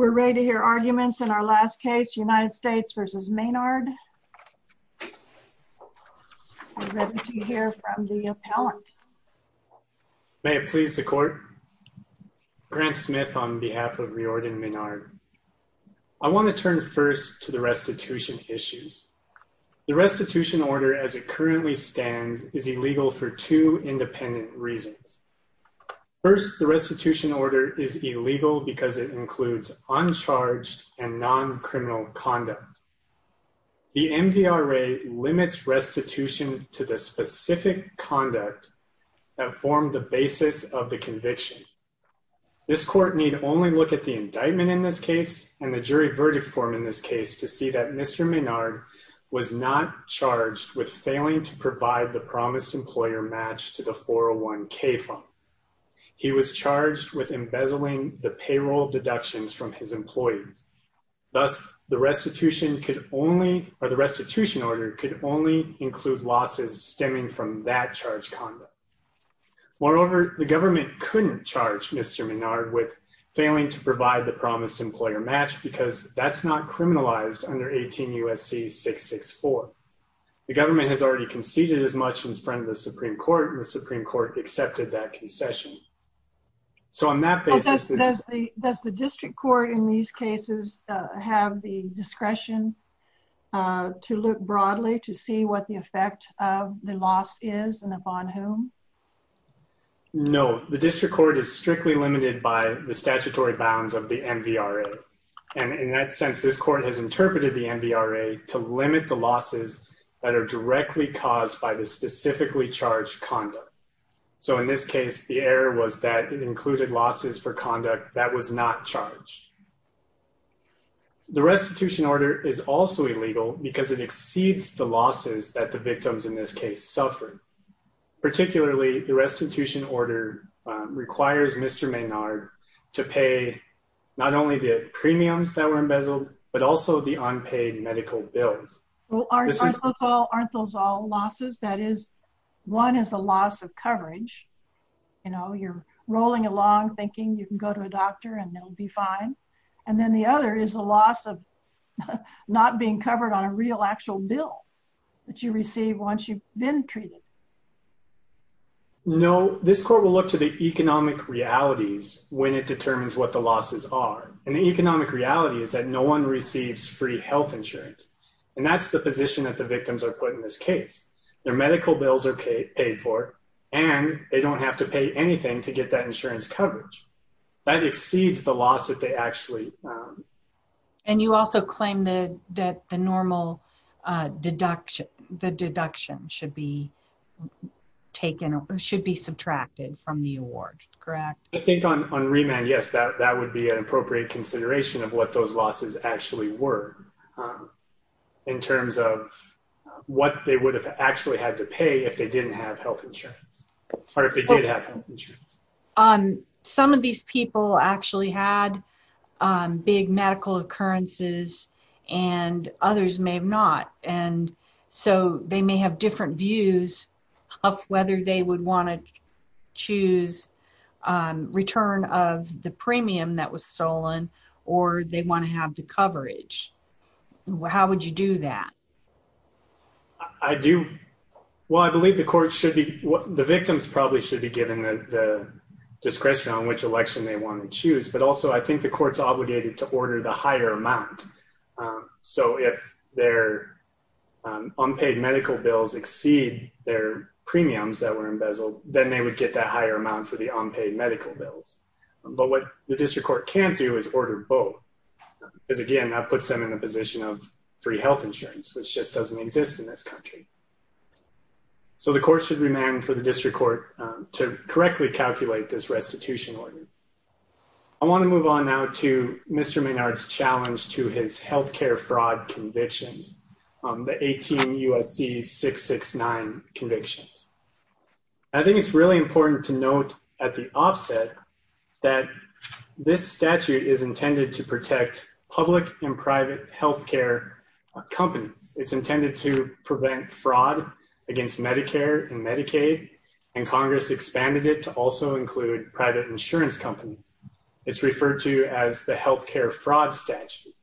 May it please the court. Grant Smith on behalf of Riordan Maynard. I want to turn first to the restitution issues. The restitution order as it currently stands is illegal for two people because it includes uncharged and non-criminal conduct. The MVRA limits restitution to the specific conduct that formed the basis of the conviction. This court need only look at the indictment in this case and the jury verdict form in this case to see that Mr. Maynard was not charged with failing to provide the promised employer match to the 401k funds. He was charged with embezzling the payroll deductions from his employees. Thus the restitution could only or the restitution order could only include losses stemming from that charge conduct. Moreover the government couldn't charge Mr. Maynard with failing to provide the promised employer match because that's not criminalized under 18 USC 664. The government has already conceded as much in front of the Supreme Court and the Supreme Court accepted that concession. So on that basis... Does the district court in these cases have the discretion to look broadly to see what the effect of the loss is and upon whom? No. The district court is strictly limited by the statutory bounds of the MVRA. And in that sense this court has interpreted the MVRA to limit the error was that it included losses for conduct that was not charged. The restitution order is also illegal because it exceeds the losses that the victims in this case suffered. Particularly the restitution order requires Mr. Maynard to pay not only the premiums that were embezzled but also the unpaid medical bills. Aren't those all losses? That is one is a loss of coverage. You know you're rolling along thinking you can go to a doctor and they'll be fine. And then the other is a loss of not being covered on a real actual bill that you receive once you've been treated. No. This court will look to the economic realities when it determines what the losses are. And the economic reality is that no one receives free health insurance. And that's the position that the victims are put in this case. Their medical bills are paid for and they don't have to pay anything to get that insurance coverage. That exceeds the loss that they actually... And you also claim that the normal deduction should be subtracted from the award, correct? I think on remand, yes, that would be an appropriate consideration of what those losses actually were in terms of what they would have actually had to pay if they didn't have health insurance or if they did have health insurance. Some of these people actually had big medical occurrences and others may have not. And so they may have different views of whether they would want to choose return of the premium that was stolen or they want to have the coverage. How would you do that? I do. Well, I believe the court should be... The victims probably should be given the discretion on which election they want to choose. But also, I think the court's obligated to order the higher amount. So if their unpaid medical bills exceed their premiums that were embezzled, then they would get that higher amount for the unpaid medical bills. But what the district court can't do is order both. Because again, that puts them in a position of free health insurance, which just doesn't exist in this country. So the court should remand for the district court to correctly calculate this restitution order. I want to move on now to Mr. Maynard's challenge to his health care fraud convictions, the 18 U.S.C. 669 convictions. I think it's really important to note at the offset that this statute is intended to protect public and private health care companies. It's intended to prevent fraud against Medicare and Medicaid. And Congress expanded it to also include private insurance companies. It's referred to as the health care fraud statute.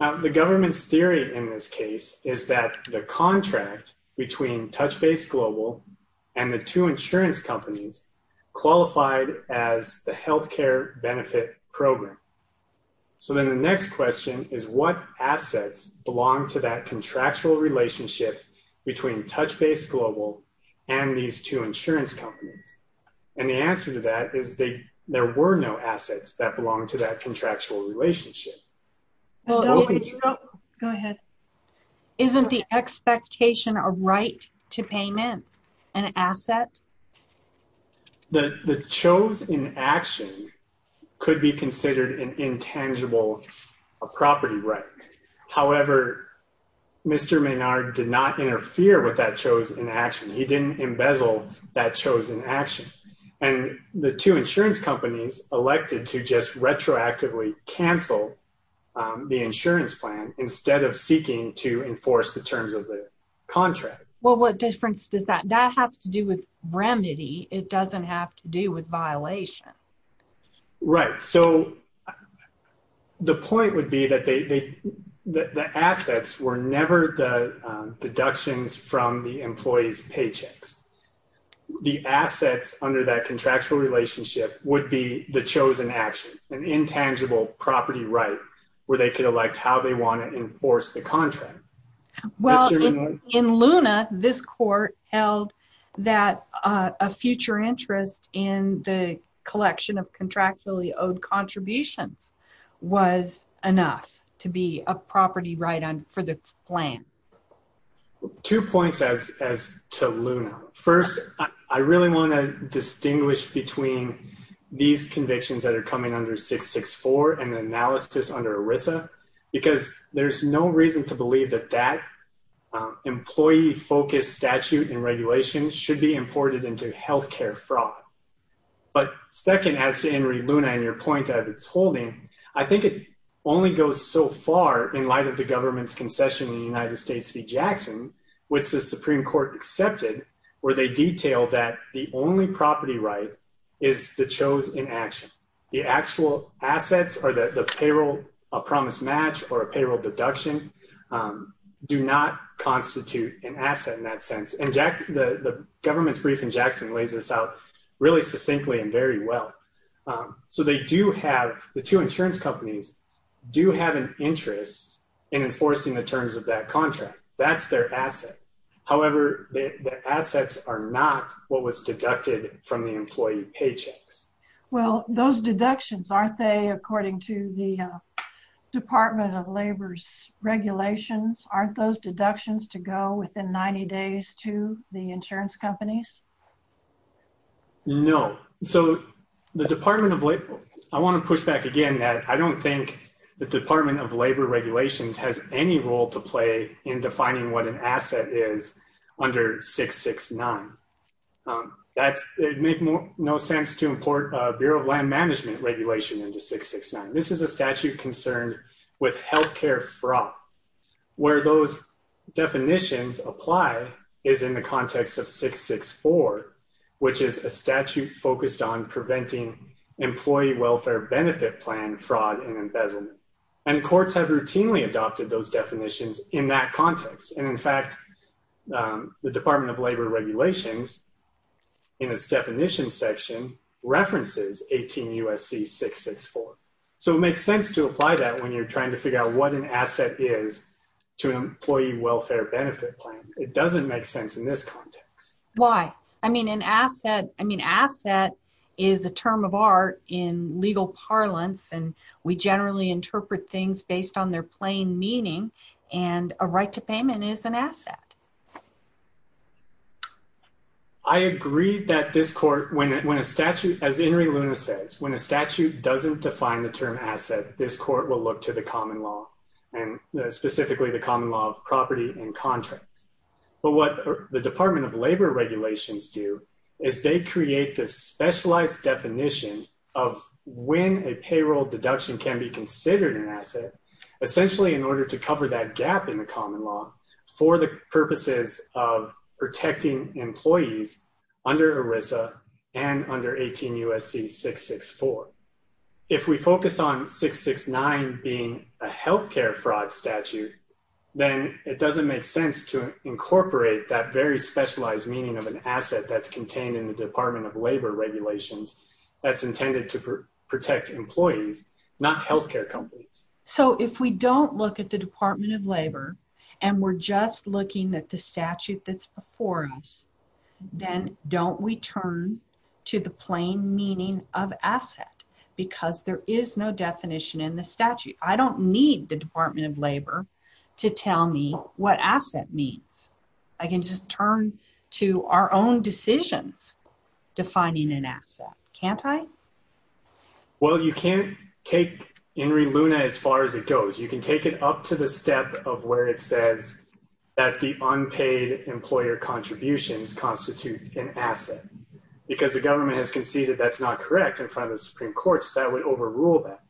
The government's theory in this case is that the contract between TouchBase Global and the two insurance companies qualified as the health care benefit program. So then the next question is what assets belong to that contractual relationship between TouchBase Global and these two insurance companies? And the answer to that is there were no assets that belong to that contractual relationship. Isn't the expectation a right to payment an asset? The chosen action could be considered an intangible property right. However, Mr. Maynard did not interfere with that chosen action. He didn't embezzle that chosen action. And the two insurance companies elected to just retroactively cancel the insurance plan instead of seeking to enforce the terms of the contract. Well, what difference does that have? That has to do with remedy. It doesn't have to do with violation. Right. So the point would be that the assets were never the deductions from the employees' paychecks. The assets under that contractual relationship would be the chosen action, an intangible property right where they could elect how they want to enforce the contract. Well, in Luna, this court held that a future interest in the collection of contractually owed contributions was enough to be a property right for the plan. Two points as to Luna. First, I really want to distinguish between these convictions that are coming under 664 and the analysis under ERISA because there's no reason to believe that that employee-focused statute and regulations should be imported into health care fraud. But second, as to Henry Luna and your point that it's holding, I think it only goes so far in light of the government's concession in the United States v. Jackson, which the Supreme Court accepted, where they detailed that the only property right is the chosen action. The actual assets or the payroll promise match or a payroll deduction do not constitute an asset in that sense. And the government's brief in Jackson lays this out really succinctly and very well. So the two insurance companies do have an interest in enforcing the terms of that contract. That's their asset. However, the assets are not what was deducted from the employee paychecks. Well, those deductions, aren't they, according to the Department of Labor's regulations, aren't those deductions to go within 90 days to the insurance companies? No. So the Department of Labor, I want to push back again that I don't think the Department of Labor regulations has any role to play in defining what an asset is under 669. It would make no sense to import a Bureau of Land Management regulation into 669. This is a statute concerned with health care fraud. Where those definitions apply is in the context of 664, which is a statute focused on preventing employee welfare benefit plan fraud and embezzlement. And courts have routinely adopted those definitions in that context. And in fact, the Department of Labor regulations in its definition section references 18 U.S.C. 664. So it makes sense to apply that when you're trying to figure out what an asset is to an employee welfare benefit plan. It doesn't make sense in this context. Why? I mean, an asset is a term of art in legal parlance, and we generally interpret things based on their plain meaning, and a right to payment is an asset. I agree that this court, when a statute, as Inri Luna says, when a statute doesn't define the term asset, this court will look to the common law, and specifically the common law of property and contracts. But what the Department of Labor regulations do is they create this specialized definition of when a payroll deduction can be considered an asset, essentially in order to cover that gap in the common law for the purposes of protecting employees under ERISA and under 18 U.S.C. 664. If we focus on 669 being a healthcare fraud statute, then it doesn't make sense to incorporate that very specialized meaning of an asset that's contained in the Department of Labor regulations that's intended to protect employees, not healthcare companies. So if we don't look at the Department of Labor, and we're just looking at the statute that's before us, then don't we turn to the plain meaning of asset, because there is no definition in the statute. I don't need the Department of Labor to tell me what asset means. I can just turn to our own decisions defining an asset, can't I? Well, you can't take Enri Luna as far as it goes. You can take it up to the step of where it says that the unpaid employer contributions constitute an asset. Because the government has conceded that's not correct in front of the Supreme Court, so that would overrule that.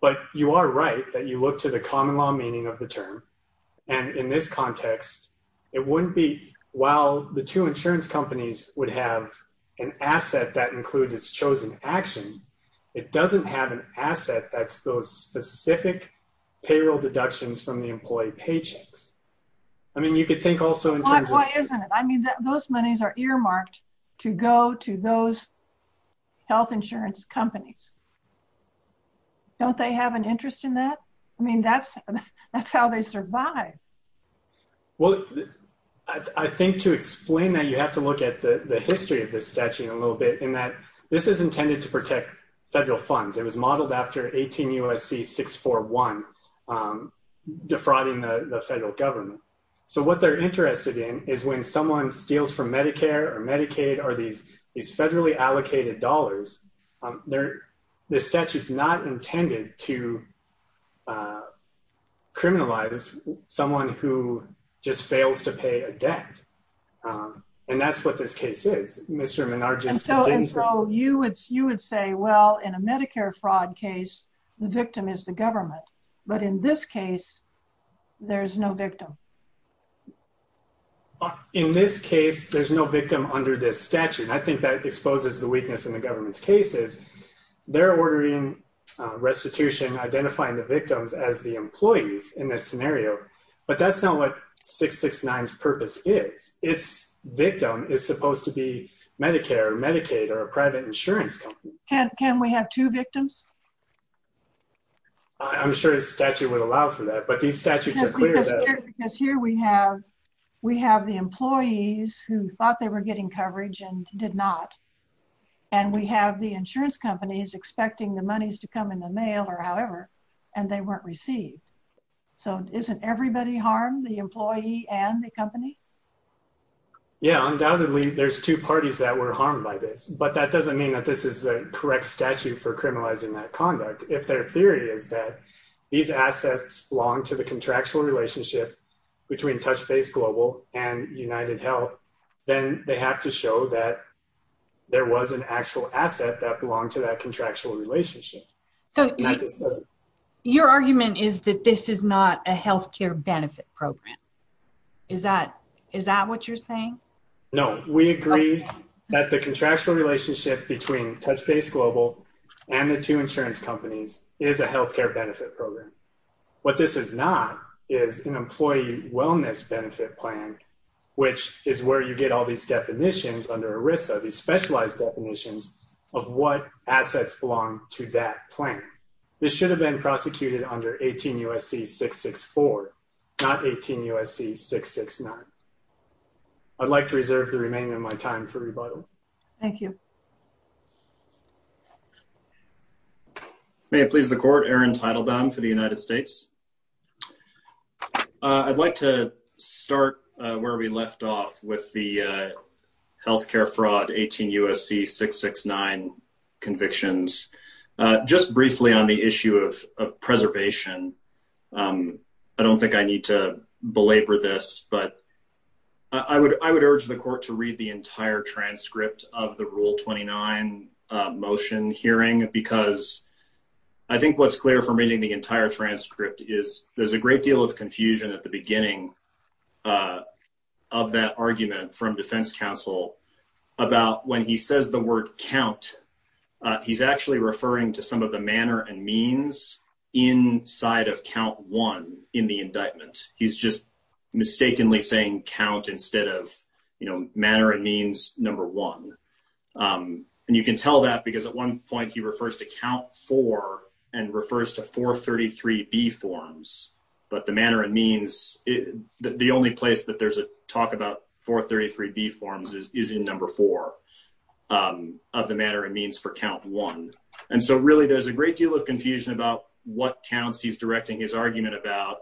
But you are right that you look to the common law meaning of the term. And in this context, it wouldn't be while the two insurance companies would have an asset that includes its chosen action, it doesn't have an asset that's those specific payroll deductions from the employee paychecks. I mean, you could think also in terms of... Why isn't it? I mean, those monies are earmarked to go to those health insurance companies. Don't they have an interest in that? I mean, that's how they survive. Well, I think to explain that you have to look at the history of this statute a little bit in that this is intended to protect federal funds. It was modeled after 18 U.S.C. 641 defrauding the federal government. So what they're interested in is when someone steals from Medicare or Medicaid or these federally allocated dollars, the statute is not intended to criminalize someone who just fails to pay a debt. And that's what this case is. So you would say, well, in a Medicare fraud case, the victim is the government. But in this case, there is no victim. In this case, there's no victim under this statute. I think that exposes the weakness in the government's cases. They're ordering restitution, identifying the victims as the employees in this scenario. But that's not what 669's purpose is. Its victim is supposed to be Medicare or Medicaid or a private insurance company. Can we have two victims? I'm sure the statute would allow for that. But these statutes are clear that... ...expecting the monies to come in the mail or however, and they weren't received. So isn't everybody harmed, the employee and the company? Yeah, undoubtedly, there's two parties that were harmed by this. But that doesn't mean that this is the correct statute for criminalizing that conduct. If their theory is that these assets belong to the contractual relationship between TouchBase Global and UnitedHealth, then they have to show that there was an actual asset that belonged to that contractual relationship. Your argument is that this is not a health care benefit program. Is that what you're saying? No, we agree that the contractual relationship between TouchBase Global and the two insurance companies is a health care benefit program. What this is not is an employee wellness benefit plan, which is where you get all these definitions under ERISA, these specialized definitions of what assets belong to that plan. This should have been prosecuted under 18 U.S.C. 664, not 18 U.S.C. 669. I'd like to reserve the remaining of my time for rebuttal. Thank you. May it please the court, Aaron Teitelbaum for the United States. I'd like to start where we left off with the health care fraud 18 U.S.C. 669 convictions. Just briefly on the issue of preservation, I don't think I need to belabor this, but I would urge the court to read the entire transcript of the Rule 29 motion hearing because I think what's clear from reading the entire transcript is there's a great deal of confusion at the beginning of that argument from defense counsel about when he says the word count. He's actually referring to some of the manner and means inside of count one in the indictment. He's just mistakenly saying count instead of manner and means number one. And you can tell that because at one point he refers to count four and refers to 433B forms. But the manner and means, the only place that there's a talk about 433B forms is in number four of the manner and means for count one. And so really there's a great deal of confusion about what counts he's directing his argument about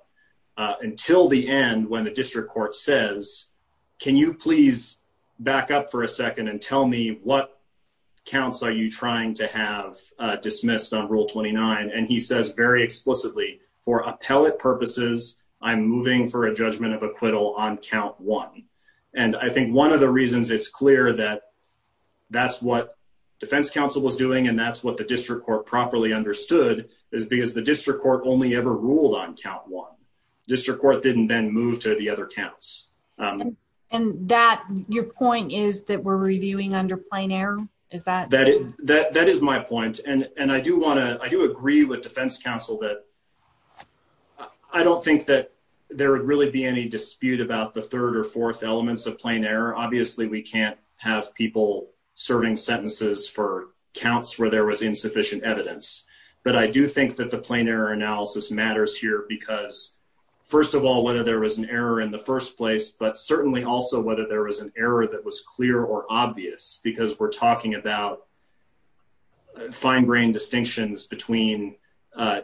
until the end when the district court says, can you please back up for a second and tell me what counts are you trying to have dismissed on Rule 29? And he says very explicitly, for appellate purposes, I'm moving for a judgment of acquittal on count one. And I think one of the reasons it's clear that that's what defense counsel was doing and that's what the district court properly understood is because the district court only ever ruled on count one. District court didn't then move to the other counts. And your point is that we're reviewing under plein air? That is my point. And I do agree with defense counsel that I don't think that there would really be any dispute about the third or fourth elements of plein air. Obviously, we can't have people serving sentences for counts where there was insufficient evidence. But I do think that the plein air analysis matters here because, first of all, whether there was an error in the first place, but certainly also whether there was an error that was clear or obvious because we're talking about fine grained distinctions between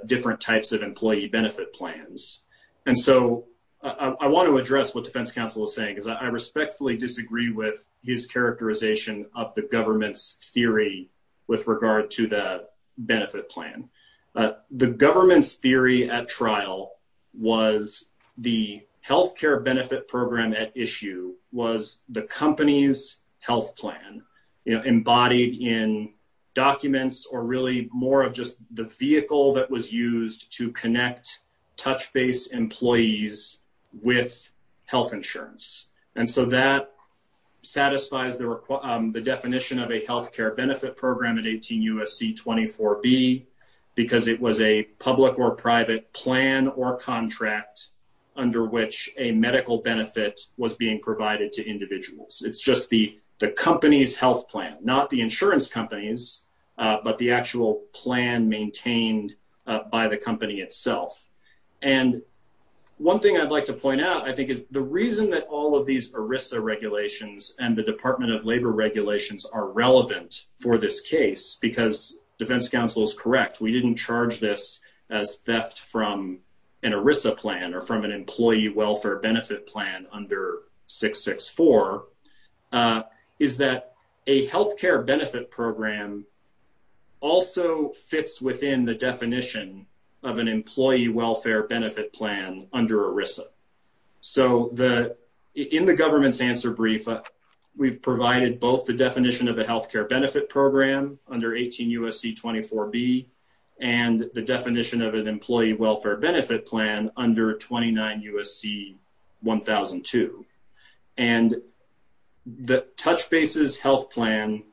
different types of employee benefit plans. And so I want to address what defense counsel is saying because I respectfully disagree with his characterization of the government's theory with regard to the benefit plan. The government's theory at trial was the health care benefit program at issue was the company's health plan embodied in documents or really more of just the vehicle that was used to connect touch base employees with health insurance. And so that satisfies the definition of a health care benefit program at 18 U.S.C. 24B because it was a public or private plan or contract under which a medical benefit was being provided to individuals. It's just the company's health plan, not the insurance company's, but the actual plan maintained by the company itself. And one thing I'd like to point out, I think, is the reason that all of these ERISA regulations and the Department of Labor regulations are relevant for this case because defense counsel is correct. We didn't charge this as theft from an ERISA plan or from an employee welfare benefit plan under 664 is that a health care benefit program also fits within the definition of an employee welfare benefit plan under ERISA. So in the government's answer brief, we've provided both the definition of a health care benefit program under 18 U.S.C. 24B and the definition of an employee welfare benefit plan under 29 U.S.C. 1002. And the touch bases health plan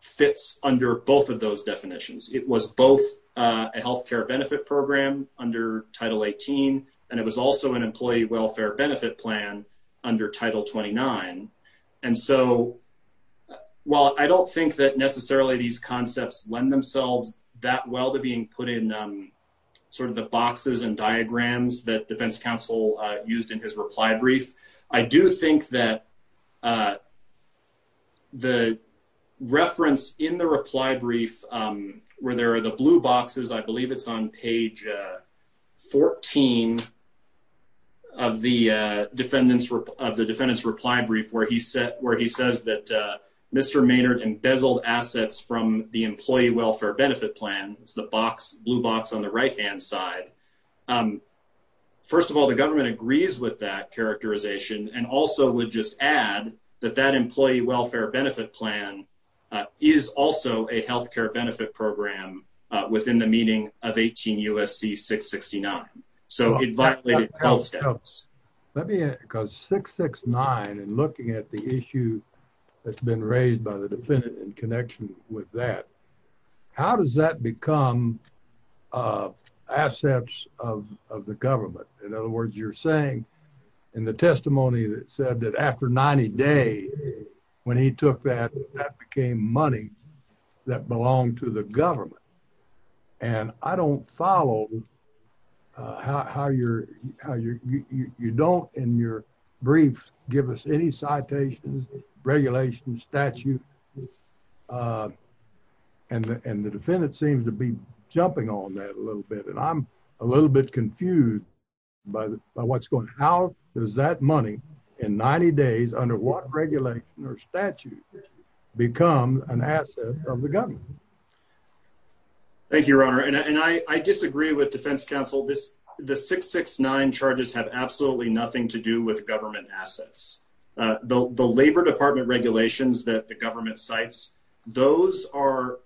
fits under both of those definitions. It was both a health care benefit program under Title 18 and it was also an employee welfare benefit plan under Title 29. And so while I don't think that necessarily these concepts lend themselves that well to being put in sort of the boxes and diagrams that defense counsel used in his reply brief, I do think that the reference in the reply brief where there are the blue boxes, I believe it's on page 14 of the defendant's reply brief where he said where he says that Mr. Maynard embezzled assets from the employee welfare benefit plan. It's the box blue box on the right hand side. First of all, the government agrees with that characterization and also would just add that that employee welfare benefit plan is also a health care benefit program within the meaning of 18 U.S.C. 669. So it violated both steps. Because 669 and looking at the issue that's been raised by the defendant in connection with that, how does that become assets of the government? In other words, you're saying in the testimony that said that after 90 days when he took that, that became money that belonged to the government. And I don't follow how you don't in your brief give us any citations, regulations, statute. And the defendant seems to be jumping on that a little bit and I'm a little bit confused by what's going. How does that money in 90 days under what regulation or statute become an asset of the government? Thank you, Your Honor. And I disagree with defense counsel. This the 669 charges have absolutely nothing to do with government assets. The Labor Department regulations that the government cites, those are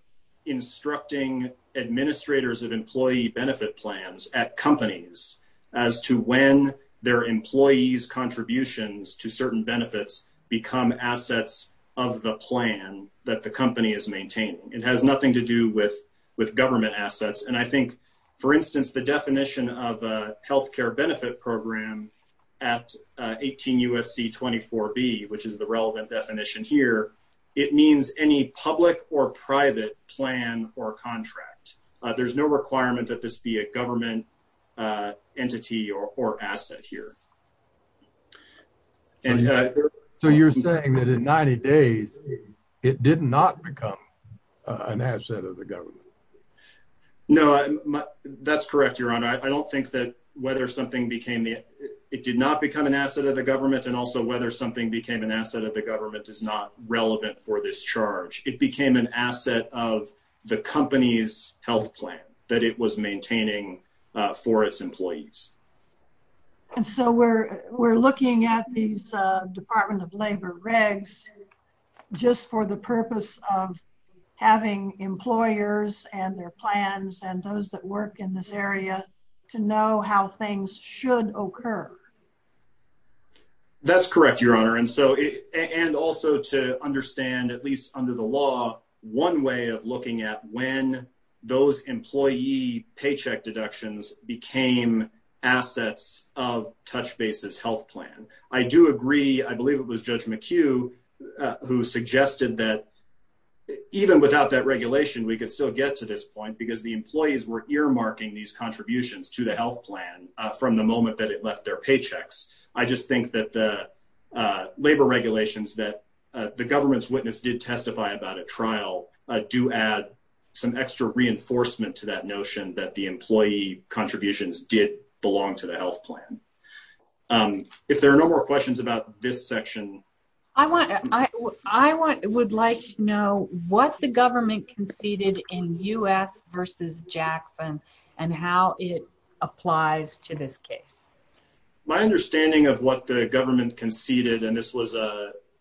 instructing administrators of employee benefit plans at companies as to when their employees contributions to certain benefits become assets of the plan that the company is maintaining. It has nothing to do with government assets. And I think, for instance, the definition of a health care benefit program at 18 U.S.C. 24B, which is the relevant definition here, it means any public or private plan or contract. There's no requirement that this be a government entity or asset here. And so you're saying that in 90 days, it did not become an asset of the government. No, that's correct, Your Honor. I don't think that whether something became the it did not become an asset of the government and also whether something became an asset of the government is not relevant for this charge. It became an asset of the company's health plan that it was maintaining for its employees. And so we're we're looking at these Department of Labor regs just for the purpose of having employers and their plans and those that work in this area to know how things should occur. That's correct, Your Honor. And so and also to understand, at least under the law, one way of looking at when those employee paycheck deductions became assets of TouchBase's health plan. I believe it was Judge McHugh who suggested that even without that regulation, we could still get to this point because the employees were earmarking these contributions to the health plan from the moment that it left their paychecks. I just think that the labor regulations that the government's witness did testify about at trial do add some extra reinforcement to that notion that the employee contributions did belong to the health plan. If there are no more questions about this section. I would like to know what the government conceded in U.S. v. Jackson and how it applies to this case. My understanding of what the government conceded, and this was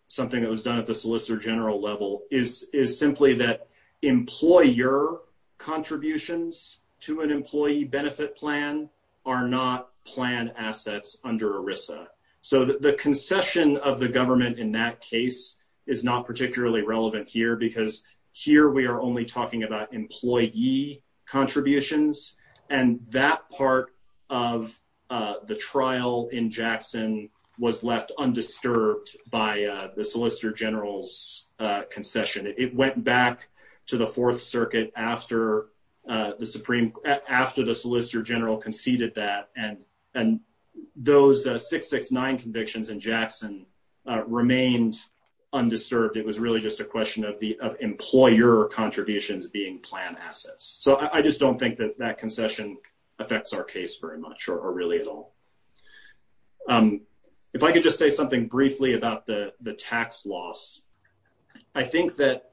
something that was done at the Solicitor General level, is simply that employer contributions to an employee benefit plan are not plan assets under ERISA. So the concession of the government in that case is not particularly relevant here because here we are only talking about employee contributions, and that part of the trial in Jackson was left undisturbed by the Solicitor General's concession. It went back to the Fourth Circuit after the Solicitor General conceded that, and those 669 convictions in Jackson remained undisturbed. It was really just a question of the employer contributions being plan assets. So I just don't think that that concession affects our case very much or really at all. If I could just say something briefly about the tax loss, I think that,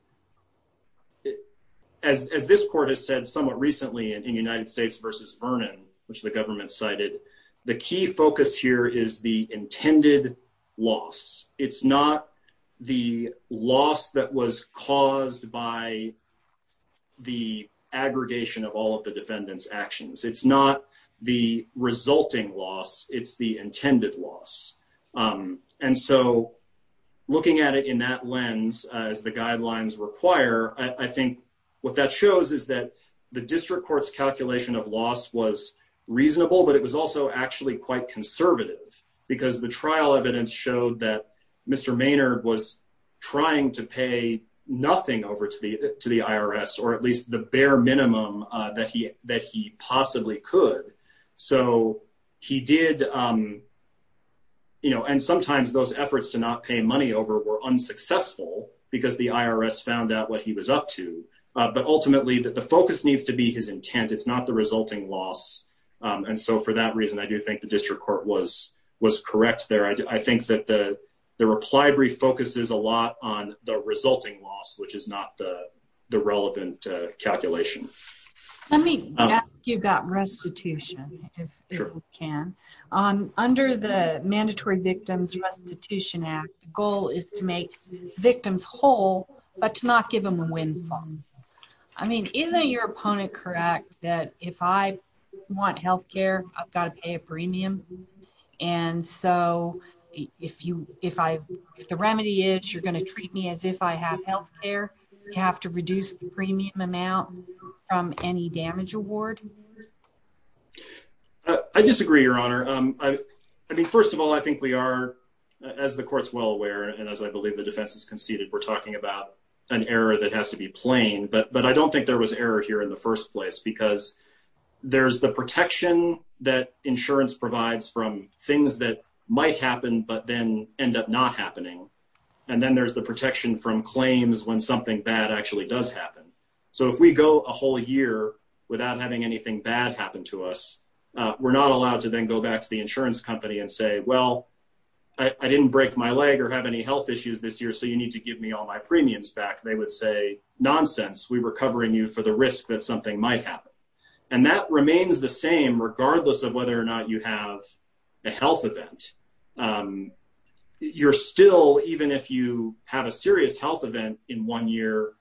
as this court has said somewhat recently in United States v. Vernon, which the government cited, the key focus here is the intended loss. It's not the loss that was caused by the aggregation of all of the defendants' actions. It's not the resulting loss. It's the intended loss. And so looking at it in that lens, as the guidelines require, I think what that shows is that the district court's calculation of loss was reasonable, but it was also actually quite conservative because the trial evidence showed that Mr. Maynard was trying to pay nothing over to the IRS, or at least the bare minimum that he possibly could. And sometimes those efforts to not pay money over were unsuccessful because the IRS found out what he was up to, but ultimately the focus needs to be his intent. It's not the resulting loss. And so for that reason, I do think the district court was correct there. I think that the reply brief focuses a lot on the resulting loss, which is not the relevant calculation. Let me ask you about restitution, if we can. Under the Mandatory Victims Restitution Act, the goal is to make victims whole, but to not give them a windfall. I mean, isn't your opponent correct that if I want health care, I've got to pay a premium? And so if the remedy is you're going to treat me as if I have health care, you have to reduce the premium amount from any damage award? I disagree, Your Honor. I mean, first of all, I think we are, as the court's well aware, and as I believe the defense has conceded, we're talking about an error that has to be plain. But I don't think there was error here in the first place because there's the protection that insurance provides from things that might happen, but then end up not happening. And then there's the protection from claims when something bad actually does happen. So if we go a whole year without having anything bad happen to us, we're not allowed to then go back to the insurance company and say, well, I didn't break my leg or have any health issues this year, so you need to give me all my premiums back. They would say, nonsense, we were covering you for the risk that something might happen. And that remains the same regardless of whether or not you have a health event. You're still, even if you have a serious health event in one year,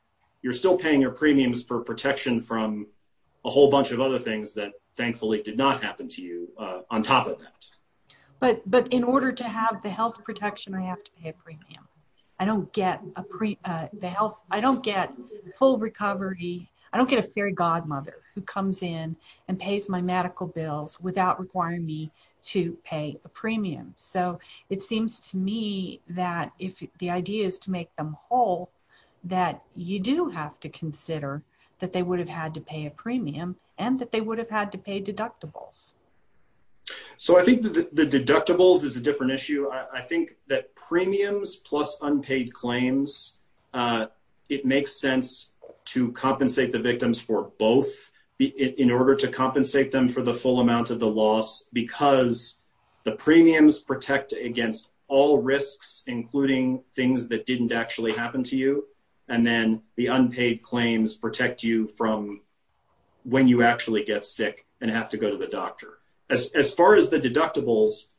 you're still paying your premiums for protection from a whole bunch of other things that thankfully did not happen to you on top of that. But in order to have the health protection, I have to pay a premium. I don't get the health, I don't get full recovery, I don't get a fairy godmother who comes in and pays my medical bills without requiring me to pay a premium. So it seems to me that if the idea is to make them whole, that you do have to consider that they would have had to pay a premium and that they would have had to pay deductibles. So I think the deductibles is a different issue. I think that premiums plus unpaid claims, it makes sense to compensate the victims for both in order to compensate them for the full amount of the loss because the premiums protect against all risks, including things that didn't actually happen to you. And then the unpaid claims protect you from when you actually get sick and have to go to the doctor. As far as the deductibles,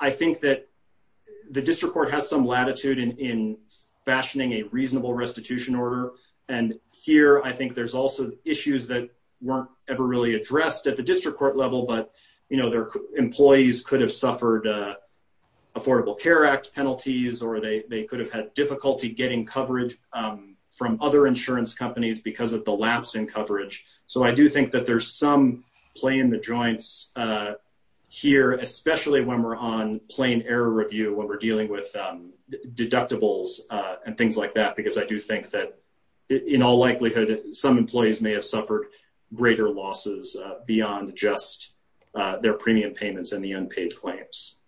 I think that the district court has some latitude in fashioning a reasonable restitution order. And here, I think there's also issues that weren't ever really addressed at the district court level, but their employees could have suffered Affordable Care Act penalties or they could have had difficulty getting coverage from other insurance companies because of the lapse in coverage. So I do think that there's some play in the joints here, especially when we're on plain error review, when we're dealing with deductibles and things like that, because I do think that in all likelihood, some employees may have suffered greater losses beyond just their premium payments and the unpaid claims.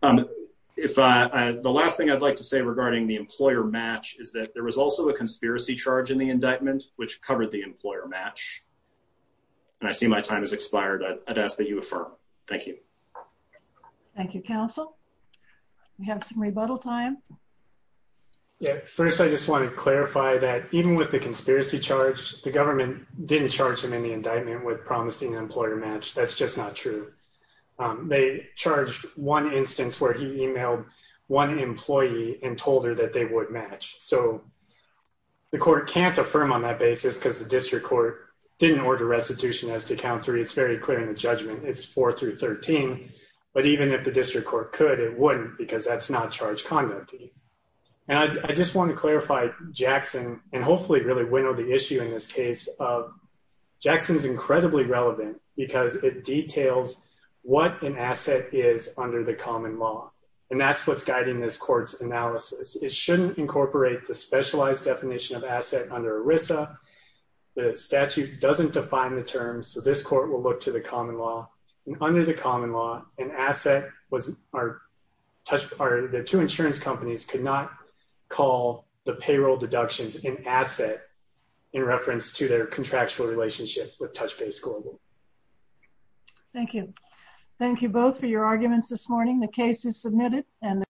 The last thing I'd like to say regarding the employer match is that there was also a conspiracy charge in the indictment, which covered the employer match. And I see my time has expired. I'd ask that you affirm. Thank you. Thank you, counsel. We have some rebuttal time. First, I just want to clarify that even with the conspiracy charge, the government didn't charge him in the indictment with promising employer match. That's just not true. They charged one instance where he emailed one employee and told her that they would match. So the court can't affirm on that basis because the district court didn't order restitution as to count three. It's very clear in the judgment. It's four through 13. But even if the district court could, it wouldn't because that's not charge conduct. And I just want to clarify Jackson and hopefully really winnow the issue in this case of Jackson's incredibly relevant because it details what an asset is under the common law. And that's what's guiding this court's analysis. It shouldn't incorporate the specialized definition of asset under ERISA. The statute doesn't define the term. So this court will look to the common law under the common law and asset was our touch. Our two insurance companies could not call the payroll deductions in asset in reference to their contractual relationship with touch base global. Thank you. Thank you both for your arguments this morning. The case is submitted and the court is adjourned.